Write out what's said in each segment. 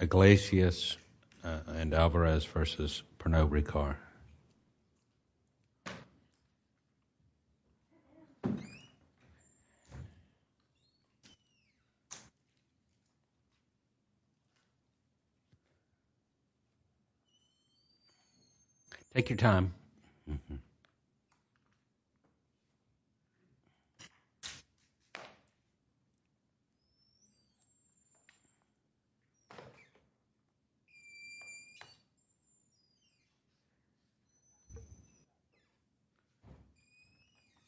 Iglesias and Alvarez v. Pernod Ricard. Take your time.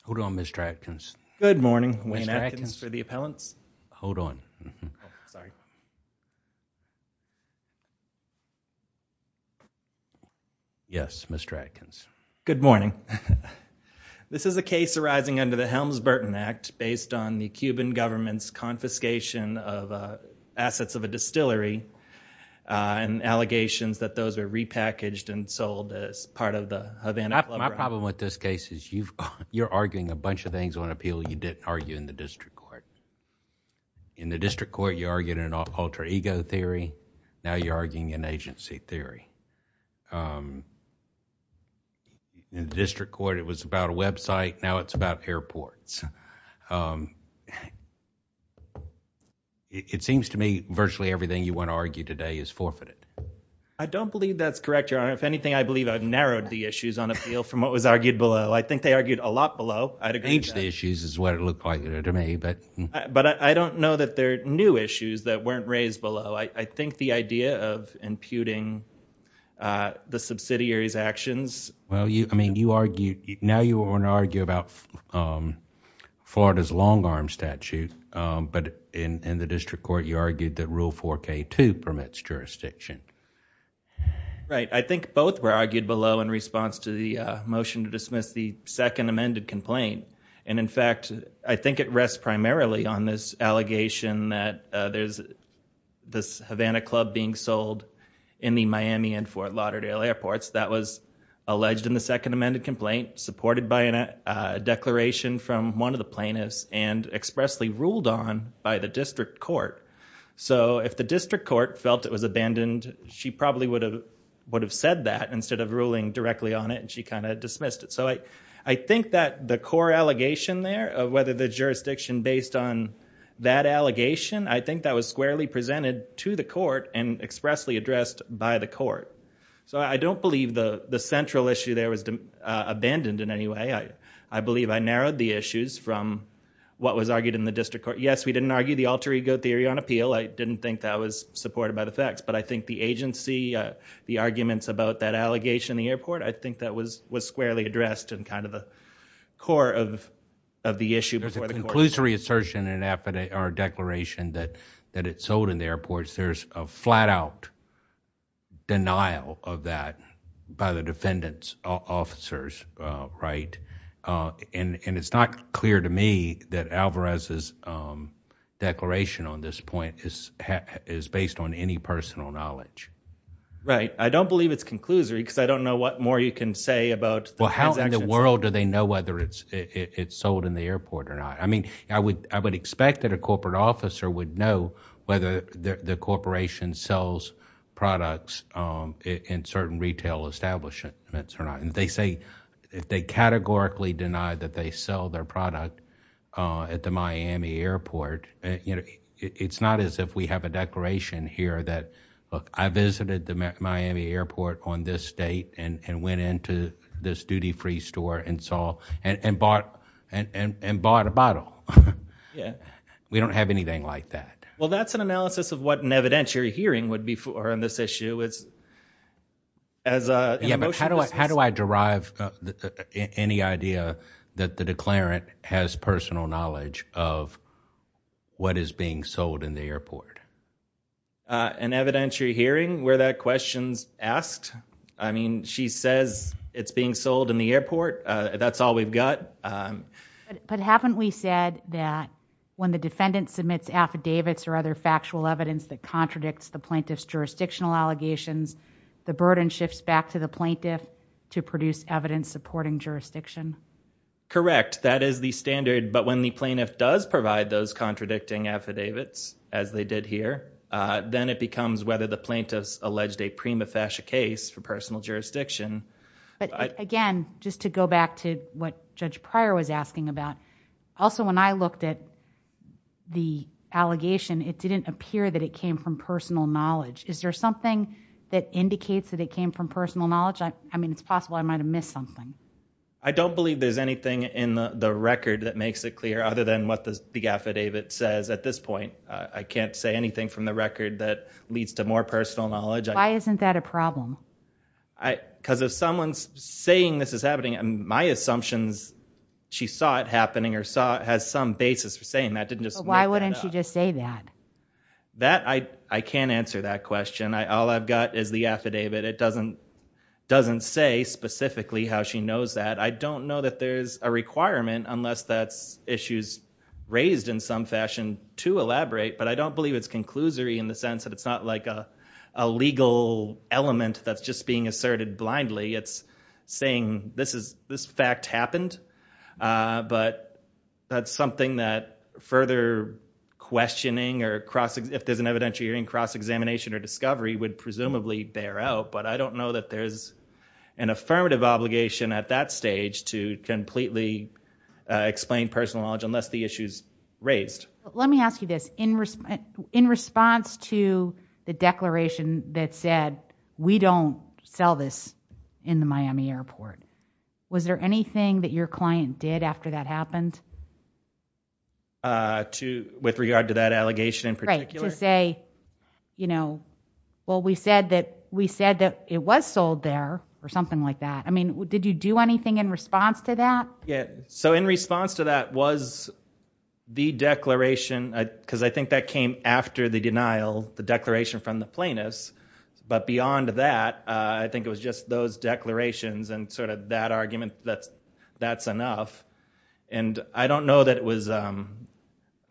Hold on, Mr. Atkins. Good morning. Wayne Atkins for the appellants. Hold on. Sorry. Yes, Mr. Atkins. Good morning. This is a case arising under the Helms-Burton Act based on the Cuban government's confiscation of assets of a distillery and allegations that those are repackaged and sold as part of the Havana Club. My problem with this case is you're arguing a bunch of things on appeal you didn't argue in the district court. In the district court, you argued an alter ego theory. Now you're arguing an agency theory. In the district court, it was about a website. Now it's about airports. It seems to me virtually everything you want to argue today is forfeited. I don't believe that's correct, Your Honor. If anything, I believe I've narrowed the issues on appeal from what was argued below. I think they argued a lot below. I'd agree with that. I think the issues is what it looked like to me. But I don't know that there are new issues that weren't raised below. I think the idea of imputing the subsidiary's actions. Now you want to argue about Florida's long arm statute, but in the district court, you argued that Rule 4K2 permits jurisdiction. I think both were argued below in response to the motion to dismiss the second amended complaint. In fact, I think it rests primarily on this allegation that there's this Havana Club being sold in the Miami and Fort Lauderdale airports. That was alleged in the second amended complaint, supported by a declaration from one of the plaintiffs, and expressly ruled on by the district court. If the district court felt it was abandoned, she probably would have said that instead of ruling directly on it, and she kind of dismissed it. I think that the core allegation there of whether the jurisdiction based on that allegation, I think that was squarely presented to the court and expressly addressed by the court. I don't believe the central issue there was abandoned in any way. I believe I narrowed the issues from what was argued in the district court. Yes, we didn't argue the alter ego theory on appeal. I didn't think that was supported by the facts, but I think the agency, the arguments about that allegation in the airport, I think that was squarely addressed in kind of the core of the issue before the court. There's a conclusory assertion in our declaration that it's sold in the airports. There's a flat out denial of that by the defendant's officers, right? It's not clear to me that Alvarez's declaration on this point is based on any personal knowledge. Right. I don't believe it's conclusory because I don't know what more you can say about the transactions. How in the world do they know whether it's sold in the airport or not? I would expect that a corporate officer would know whether the corporation sells products in certain retail establishments or not. They categorically deny that they sell their product at the Miami airport. It's not as if we have a declaration here that, look, I visited the Miami airport on Yeah. We don't have anything like that. Well, that's an analysis of what an evidentiary hearing would be for on this issue as a motion. How do I derive any idea that the declarant has personal knowledge of what is being sold in the airport? An evidentiary hearing where that question's asked? I mean, she says it's being sold in the airport. That's all we've got. But haven't we said that when the defendant submits affidavits or other factual evidence that contradicts the plaintiff's jurisdictional allegations, the burden shifts back to the plaintiff to produce evidence supporting jurisdiction? Correct. That is the standard, but when the plaintiff does provide those contradicting affidavits, as they did here, then it becomes whether the plaintiff's alleged a prima facie case for personal jurisdiction. But again, just to go back to what Judge Pryor was asking about, also when I looked at the allegation, it didn't appear that it came from personal knowledge. Is there something that indicates that it came from personal knowledge? I mean, it's possible I might have missed something. I don't believe there's anything in the record that makes it clear other than what the affidavit says at this point. I can't say anything from the record that leads to more personal knowledge. Why isn't that a problem? Because if someone's saying this is happening, my assumption is she saw it happening or has some basis for saying that, didn't just make that up. Why wouldn't she just say that? I can't answer that question. All I've got is the affidavit. It doesn't say specifically how she knows that. I don't know that there's a requirement, unless that's issues raised in some fashion, to elaborate, but I don't believe it's conclusory in the sense that it's not like a legal element that's just being asserted blindly. It's saying this fact happened, but that's something that further questioning or cross-examination or discovery would presumably bear out, but I don't know that there's an affirmative obligation at that stage to completely explain personal knowledge unless the issue's raised. Let me ask you this. In response to the declaration that said, we don't sell this in the Miami airport, was there anything that your client did after that happened? With regard to that allegation in particular? Right. To say, well, we said that it was sold there or something like that. Did you do anything in response to that? In response to that was the declaration, because I think that came after the denial, the declaration from the plaintiffs, but beyond that, I think it was just those declarations and that argument that that's enough. I don't know that it was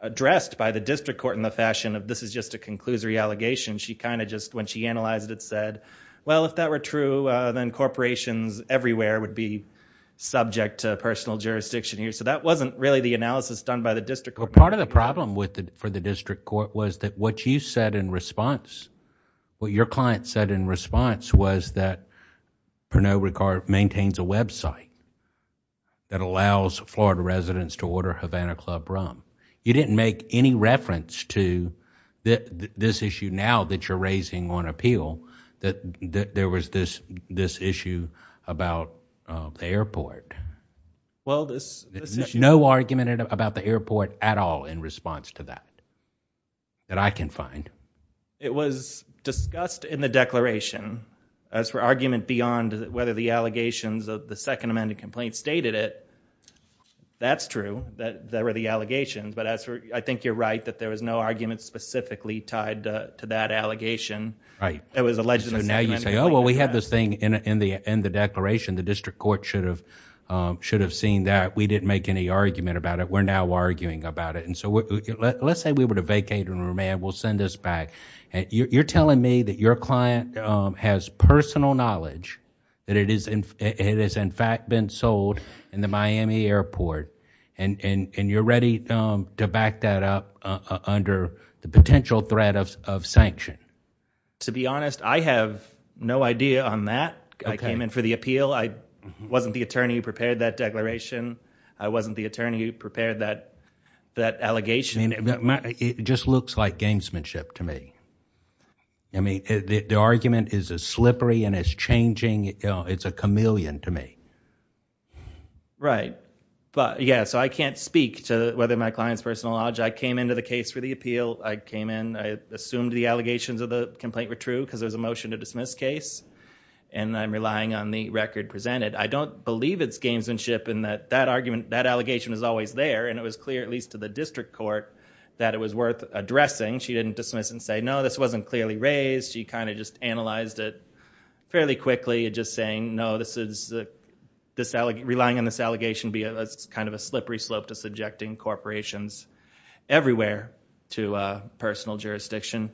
addressed by the district court in the fashion of this is just a conclusory allegation. When she analyzed it, said, well, if that were true, then corporations everywhere would be subject to personal jurisdiction here. That wasn't really the analysis done by the district court. Part of the problem for the district court was that what you said in response, what your client said in response was that Pernod Ricard maintains a website that allows Florida residents to order Havana Club Rum. You didn't make any reference to this issue now that you're raising on appeal, that there was this issue about the airport. No argument about the airport at all in response to that, that I can find. It was discussed in the declaration as for argument beyond whether the allegations of the second amended complaint stated it. That's true that there were the allegations, but I think you're right that there was no argument specifically tied to that allegation. It was alleged... Now you say, oh, well, we had this thing in the declaration. The district court should have seen that. We didn't make any argument about it. We're now arguing about it. Let's say we were to vacate and remand, we'll send this back. You're telling me that your client has personal knowledge that it has, in fact, been sold in the Miami airport, and you're ready to back that up under the potential threat of To be honest, I have no idea on that. I came in for the appeal. I wasn't the attorney who prepared that declaration. I wasn't the attorney who prepared that allegation. It just looks like gamesmanship to me. The argument is as slippery and as changing. It's a chameleon to me. Right. Yeah, so I can't speak to whether my client's personal knowledge. I came into the case for the appeal. I came in. I assumed the allegations of the complaint were true because there was a motion to dismiss case and I'm relying on the record presented. I don't believe it's gamesmanship in that that argument, that allegation is always there and it was clear, at least to the district court, that it was worth addressing. She didn't dismiss and say, no, this wasn't clearly raised. She kind of just analyzed it fairly quickly and just saying, no, relying on this allegation be a kind of a slippery slope to subjecting corporations everywhere to personal jurisdiction.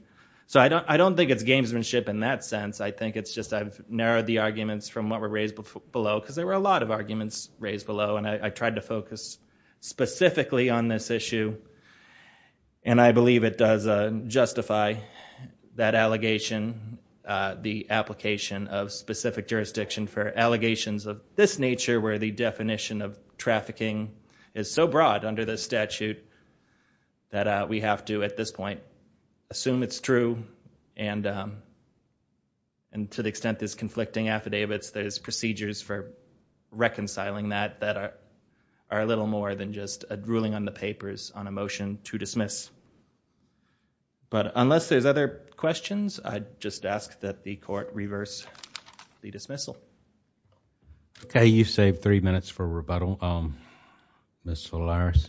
So I don't think it's gamesmanship in that sense. I think it's just I've narrowed the arguments from what were raised below because there were a lot of arguments raised below and I tried to focus specifically on this issue and I believe it does justify that allegation, the application of specific jurisdiction for trafficking is so broad under the statute that we have to, at this point, assume it's true and to the extent there's conflicting affidavits, there's procedures for reconciling that that are a little more than just a ruling on the papers on a motion to dismiss. But unless there's other questions, I'd just ask that the court reverse the dismissal. Thank you. Thank you. Okay. You've saved three minutes for rebuttal. Ms. Solares?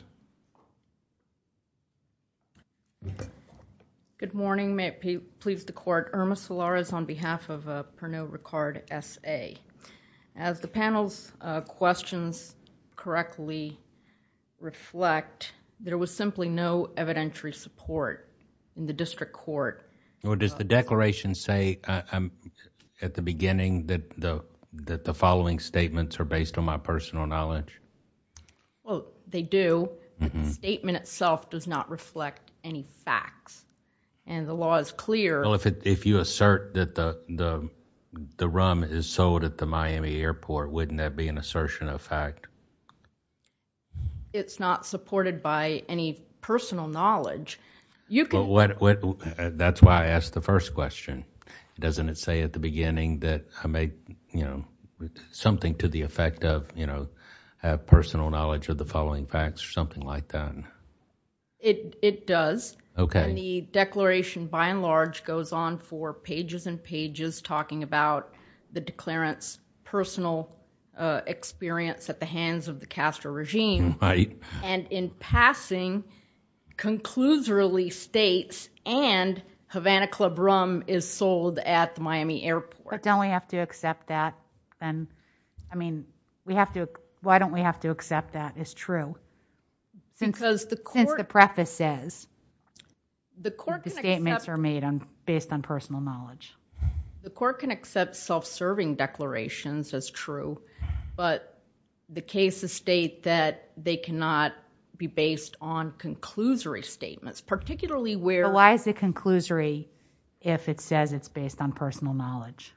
Good morning. May it please the Court, Irma Solares on behalf of Pernod Ricard, S.A. As the panel's questions correctly reflect, there was simply no evidentiary support in the district court... Does the declaration say at the beginning that the following statements are based on my personal knowledge? They do. The statement itself does not reflect any facts and the law is clear... If you assert that the rum is sold at the Miami Airport, wouldn't that be an assertion of fact? It's not supported by any personal knowledge. That's why I asked the first question. Doesn't it say at the beginning that I may, you know, something to the effect of, you know, have personal knowledge of the following facts or something like that? It does. Okay. And the declaration by and large goes on for pages and pages talking about the declarant's Right. And in passing, concludes really states and Havana Club Rum is sold at the Miami Airport. But don't we have to accept that then... I mean, we have to... Why don't we have to accept that as true since the preface says the statements are made based on personal knowledge? The court can accept self-serving declarations as true, but the cases state that they cannot be based on conclusory statements, particularly where... Why is it conclusory if it says it's based on personal knowledge?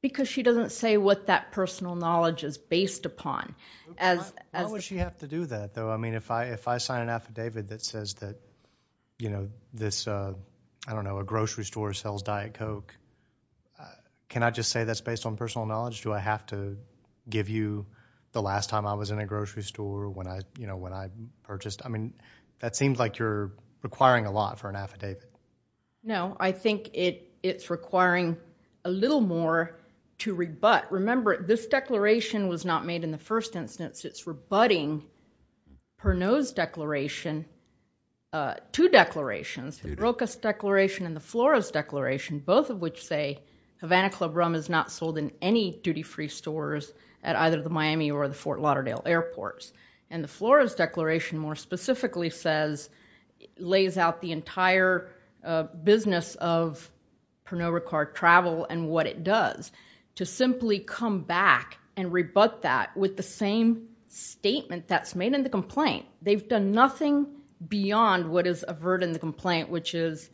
Because she doesn't say what that personal knowledge is based upon as... Why would she have to do that, though? I mean, if I sign an affidavit that says that, you know, this, I don't know, a grocery store sells Diet Coke, can I just say that's based on personal knowledge? Do I have to give you the last time I was in a grocery store when I, you know, when I purchased? I mean, that seems like you're requiring a lot for an affidavit. No, I think it's requiring a little more to rebut. Remember, this declaration was not made in the first instance. It's rebutting Pernod's declaration, two declarations, the Broca's declaration and the Floro's declaration, both of which say Havana Club Rum is not sold in any duty-free stores at either the Miami or the Fort Lauderdale airports. And the Floro's declaration more specifically says, lays out the entire business of Pernod Ricard travel and what it does. To simply come back and rebut that with the same statement that's made in the complaint. They've done nothing beyond what is averted in the complaint, which is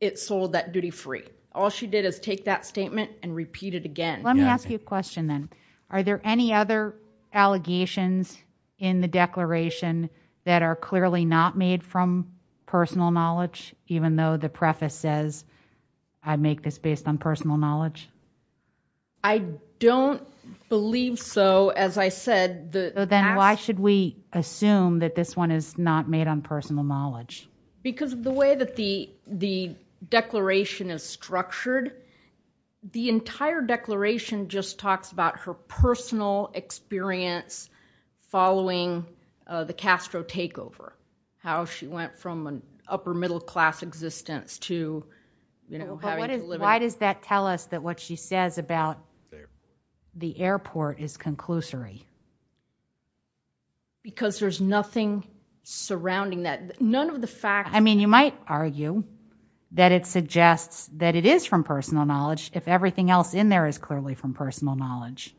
it sold that duty-free. All she did is take that statement and repeat it again. Let me ask you a question then. Are there any other allegations in the declaration that are clearly not made from personal knowledge? Even though the preface says, I make this based on personal knowledge? I don't believe so. Then why should we assume that this one is not made on personal knowledge? Because of the way that the declaration is structured, the entire declaration just talks about her personal experience following the Castro takeover, how she went from an upper middle class existence to having to live in- Because there's nothing surrounding that. None of the facts. I mean, you might argue that it suggests that it is from personal knowledge if everything else in there is clearly from personal knowledge.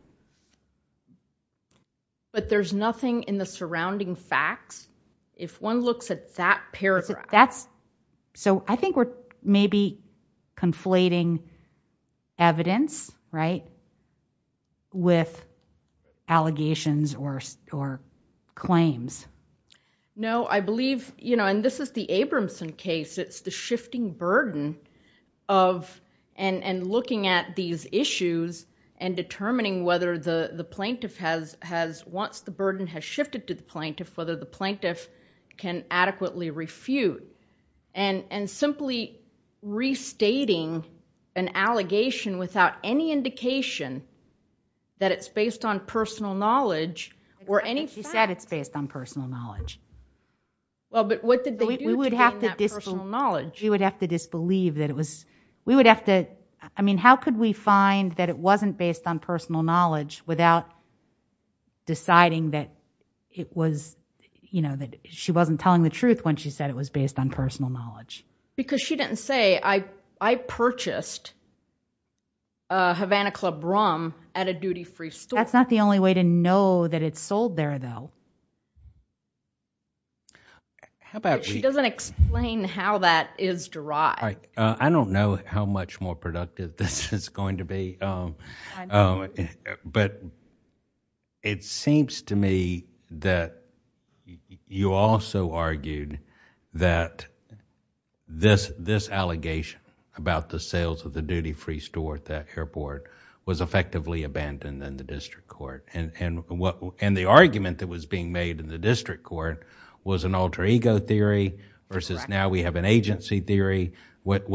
But there's nothing in the surrounding facts. If one looks at that paragraph. I think we're maybe conflating evidence with allegations or claims. No, I believe, and this is the Abramson case, it's the shifting burden of looking at these issues and determining whether the plaintiff has, once the burden has shifted to the plaintiff, whether the plaintiff can adequately refute. And simply restating an allegation without any indication that it's based on personal knowledge or any facts. She said it's based on personal knowledge. Well, but what did they do to gain that personal knowledge? We would have to disbelieve that it was, we would have to, I mean, how could we find that it wasn't based on personal knowledge without deciding that it was, you know, that she wasn't telling the truth when she said it was based on personal knowledge? Because she didn't say, I purchased a Havana Club rum at a duty-free store. That's not the only way to know that it's sold there though. How about we- She doesn't explain how that is derived. I don't know how much more productive this is going to be. But it seems to me that you also argued that this allegation about the sales of the duty-free store at that airport was effectively abandoned in the district court. And the argument that was being made in the district court was an alter ego theory versus now we have an agency theory. What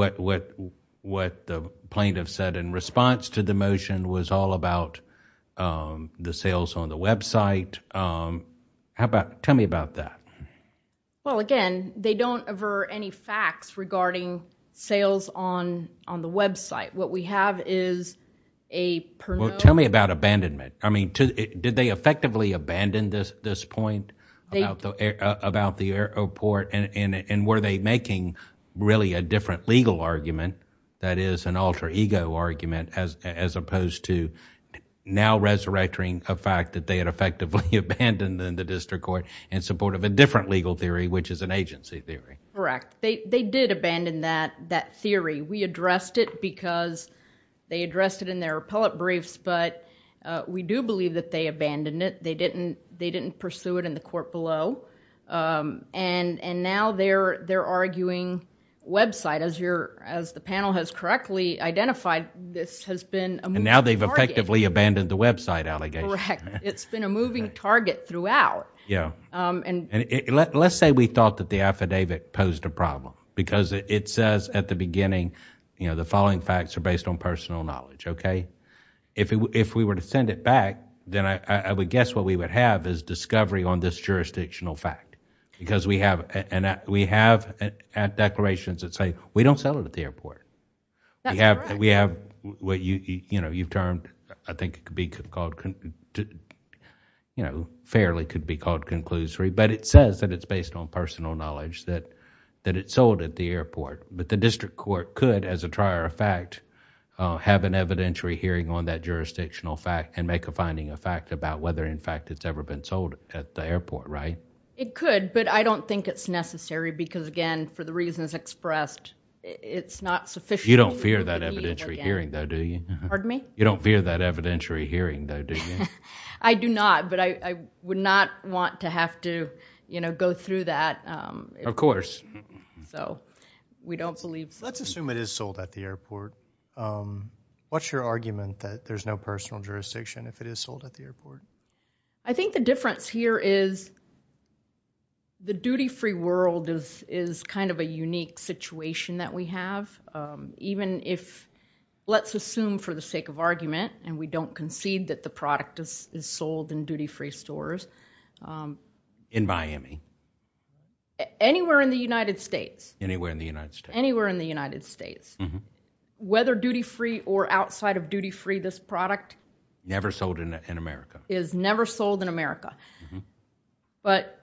the plaintiff said in response to the motion was all about the sales on the website. Tell me about that. Well, again, they don't aver any facts regarding sales on the website. What we have is a- Tell me about abandonment. I mean, did they effectively abandon this point about the airport? And were they making really a different legal argument that is an alter ego argument as opposed to now resurrecting a fact that they had effectively abandoned in the district court in support of a different legal theory which is an agency theory? Correct. They did abandon that theory. We addressed it because they addressed it in their appellate briefs but we do believe that they abandoned it. They didn't pursue it in the court below and now they're arguing website. As the panel has correctly identified, this has been a moving target. Now they've effectively abandoned the website allegation. Correct. It's been a moving target throughout. Let's say we thought that the affidavit posed a problem because it says at the beginning the following facts are based on personal knowledge. Okay? If we were to send it back, then I would guess what we would have is discovery on this jurisdictional fact because we have declarations that say we don't sell it at the airport. We have what you've termed, I think it could be called, fairly could be called conclusory but it says that it's based on personal knowledge that it's sold at the airport. The district court could, as a trier of fact, have an evidentiary hearing on that jurisdictional fact and make a finding of fact about whether in fact it's ever been sold at the airport, right? It could but I don't think it's necessary because again, for the reasons expressed, it's not sufficient... You don't fear that evidentiary hearing though, do you? Pardon me? You don't fear that evidentiary hearing though, do you? I do not but I would not want to have to go through that. Of course. So, we don't believe... Let's assume it is sold at the airport. What's your argument that there's no personal jurisdiction if it is sold at the airport? I think the difference here is the duty-free world is kind of a unique situation that we have even if, let's assume for the sake of argument and we don't concede that the product is sold in duty-free stores... In Miami? Anywhere in the United States. Anywhere in the United States. Anywhere in the United States. Whether duty-free or outside of duty-free, this product... Never sold in America. Is never sold in America. But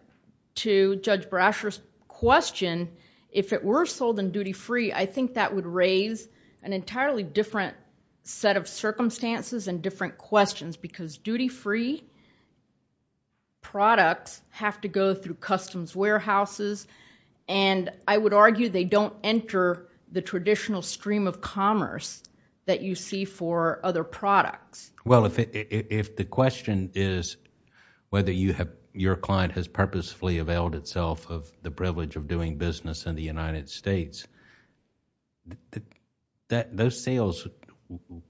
to Judge Brasher's question, if it were sold in duty-free, I think that would raise an entirely different set of circumstances and different questions because duty-free products have to go through customs warehouses and I would argue they don't enter the traditional stream of commerce that you see for other products. Well, if the question is whether your client has purposefully availed itself of the privilege of doing business in the United States, those sales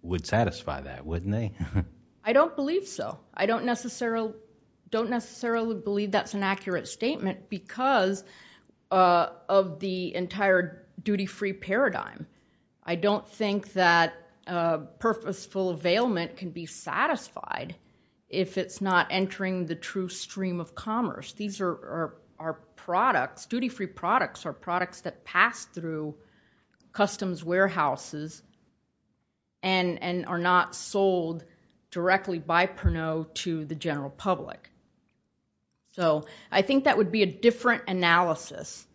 would satisfy that, wouldn't they? I don't believe so. I don't necessarily believe that's an accurate statement because of the entire duty-free paradigm. I don't think that purposeful availment can be satisfied if it's not entering the true stream of commerce. These are products, duty-free products, are products that pass through customs warehouses and are not sold directly by Perneau to the general public. I think that would be a different analysis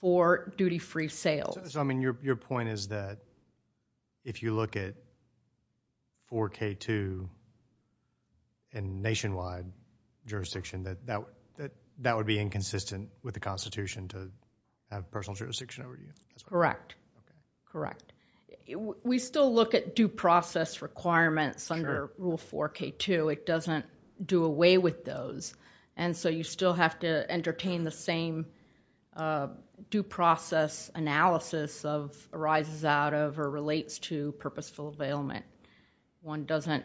for duty-free sales. Your point is that if you look at 4K2 and nationwide jurisdiction, that would be inconsistent with the Constitution to have personal jurisdiction over you? Correct. We still look at due process requirements under Rule 4K2. It doesn't do away with those and so you still have to entertain the same due process analysis of arises out of or relates to purposeful availment. One doesn't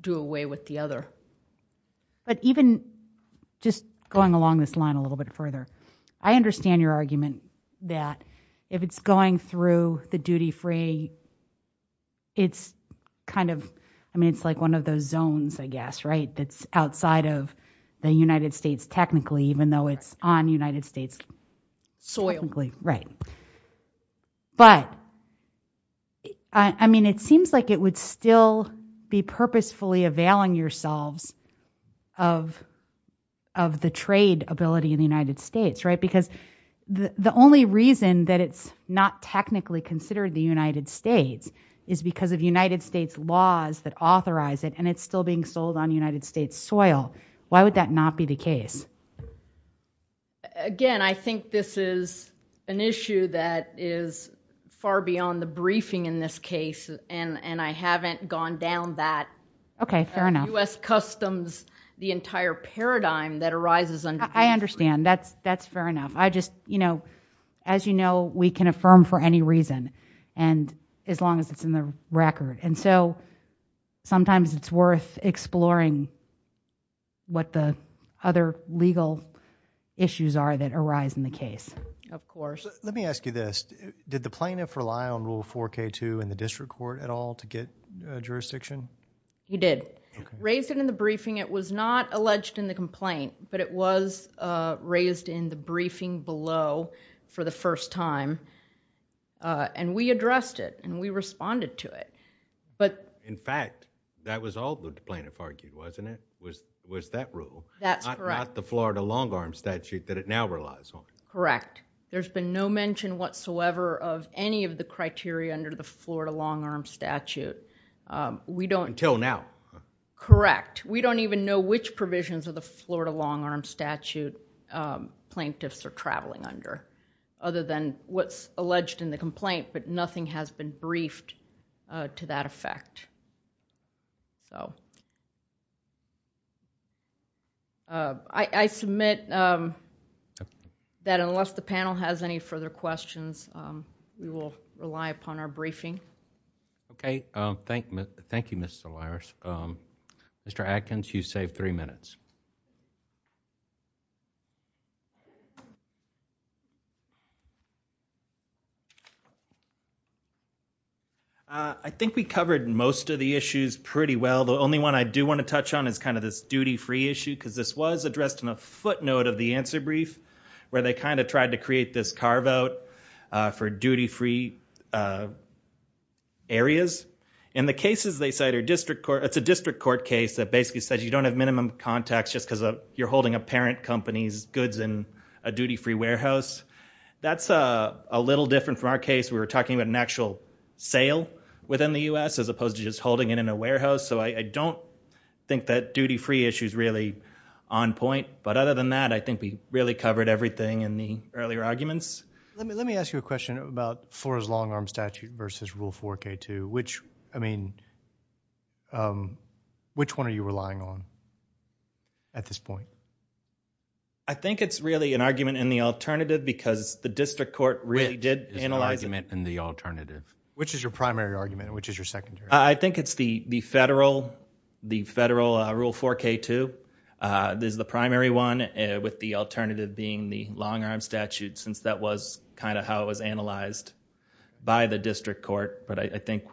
do away with the other. But even just going along this line a little bit further, I understand your argument that if it's going through the duty-free, it's kind of, I mean, it's like one of those zones, I guess, right? That's outside of the United States, technically, even though it's on United States soil. Right. But, I mean, it seems like it would still be purposefully availing yourselves of the trade ability in the United States, right? Because the only reason that it's not technically considered the United States is because of United States laws that authorize it and it's still being sold on United States soil. Why would that not be the case? Again, I think this is an issue that is far beyond the briefing in this case and I haven't gone down that. Fair enough. U.S. customs, the entire paradigm that arises under... I understand. That's fair enough. I just, you know, as you know, we can affirm for any reason and as long as it's in the record. And so, sometimes it's worth exploring what the other legal issues are that arise in the case. Of course. Let me ask you this. Did the plaintiff rely on Rule 4K2 in the district court at all to get jurisdiction? He did. Raised it in the briefing. It was not alleged in the complaint, but it was raised in the briefing below for the first time and we addressed it and we responded to it. But... In fact, that was all the plaintiff argued, wasn't it? Was that rule? That's correct. Not the Florida long arm statute that it now relies on. Correct. There's been no mention whatsoever of any of the criteria under the Florida long arm statute. We don't... Until now. Correct. We don't even know which provisions of the Florida long arm statute plaintiffs are traveling under, other than what's alleged in the complaint, but nothing has been briefed to that effect. I submit that unless the panel has any further questions, we will rely upon our briefing. Okay. Thank you, Ms. Solares. Mr. Adkins, you saved three minutes. I think we covered most of the issues pretty well. The only one I do want to touch on is this duty free issue, because this was addressed in a footnote of the answer brief, where they tried to create this carve out for duty free areas. In the cases they cite, it's a district court case that basically says you don't have minimum contacts just because you're holding a parent company's goods in a duty free warehouse. That's a little different from our case. We were talking about an actual sale within the U.S., as opposed to just holding it in a warehouse. I don't think that duty free issue is really on point, but other than that, I think we really covered everything in the earlier arguments. Let me ask you a question about Flora's long arm statute versus Rule 4K2. Which one are you relying on at this point? I think it's really an argument in the alternative, because the district court really did analyze it. Which is the argument in the alternative? Which is your primary argument, and which is your secondary? I think it's the federal Rule 4K2 is the primary one, with the alternative being the long arm statute, since that was kind of how it was analyzed by the district court, but I think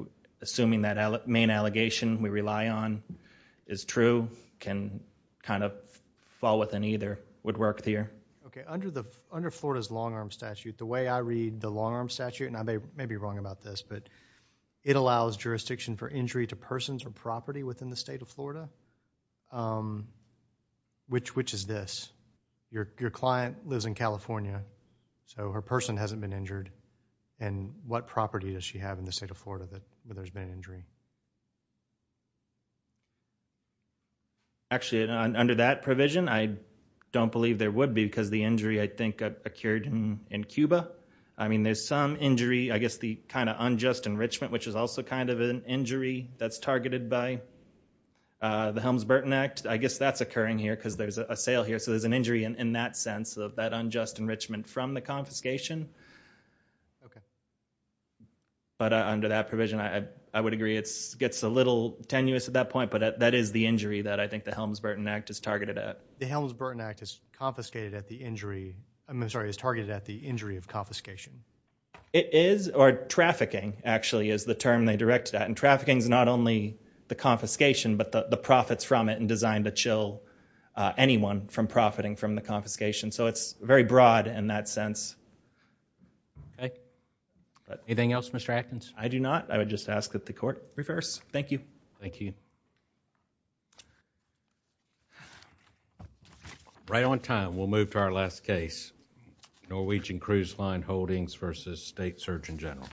assuming that main allegation we rely on is true, can kind of fall within either, would work here. Okay. Under Florida's long arm statute, the way I read the long arm statute, and I may be wrong about this, but it allows jurisdiction for injury to persons or property within the state of Florida. Which is this? Your client lives in California, so her person hasn't been injured, and what property does she have in the state of Florida where there's been an injury? Actually under that provision, I don't believe there would be, because the injury I think occurred in Cuba. I mean there's some injury, I guess the kind of unjust enrichment, which is also kind of an injury that's targeted by the Helms-Burton Act, I guess that's occurring here, because there's a sale here, so there's an injury in that sense of that unjust enrichment from the confiscation. But under that provision, I would agree it gets a little tenuous at that point, but that is the injury that I think the Helms-Burton Act is targeted at. The Helms-Burton Act is confiscated at the injury, I'm sorry, is targeted at the injury of confiscation. It is, or trafficking actually is the term they direct that, and trafficking is not only the confiscation, but the profits from it and designed to chill anyone from profiting from the confiscation, so it's very broad in that sense. Anything else, Mr. Atkins? I do not. I would just ask that the court reverse. Thank you. Thank you. Right on time, we'll move to our last case, Norwegian Cruise Line Holdings versus State Surgeon General.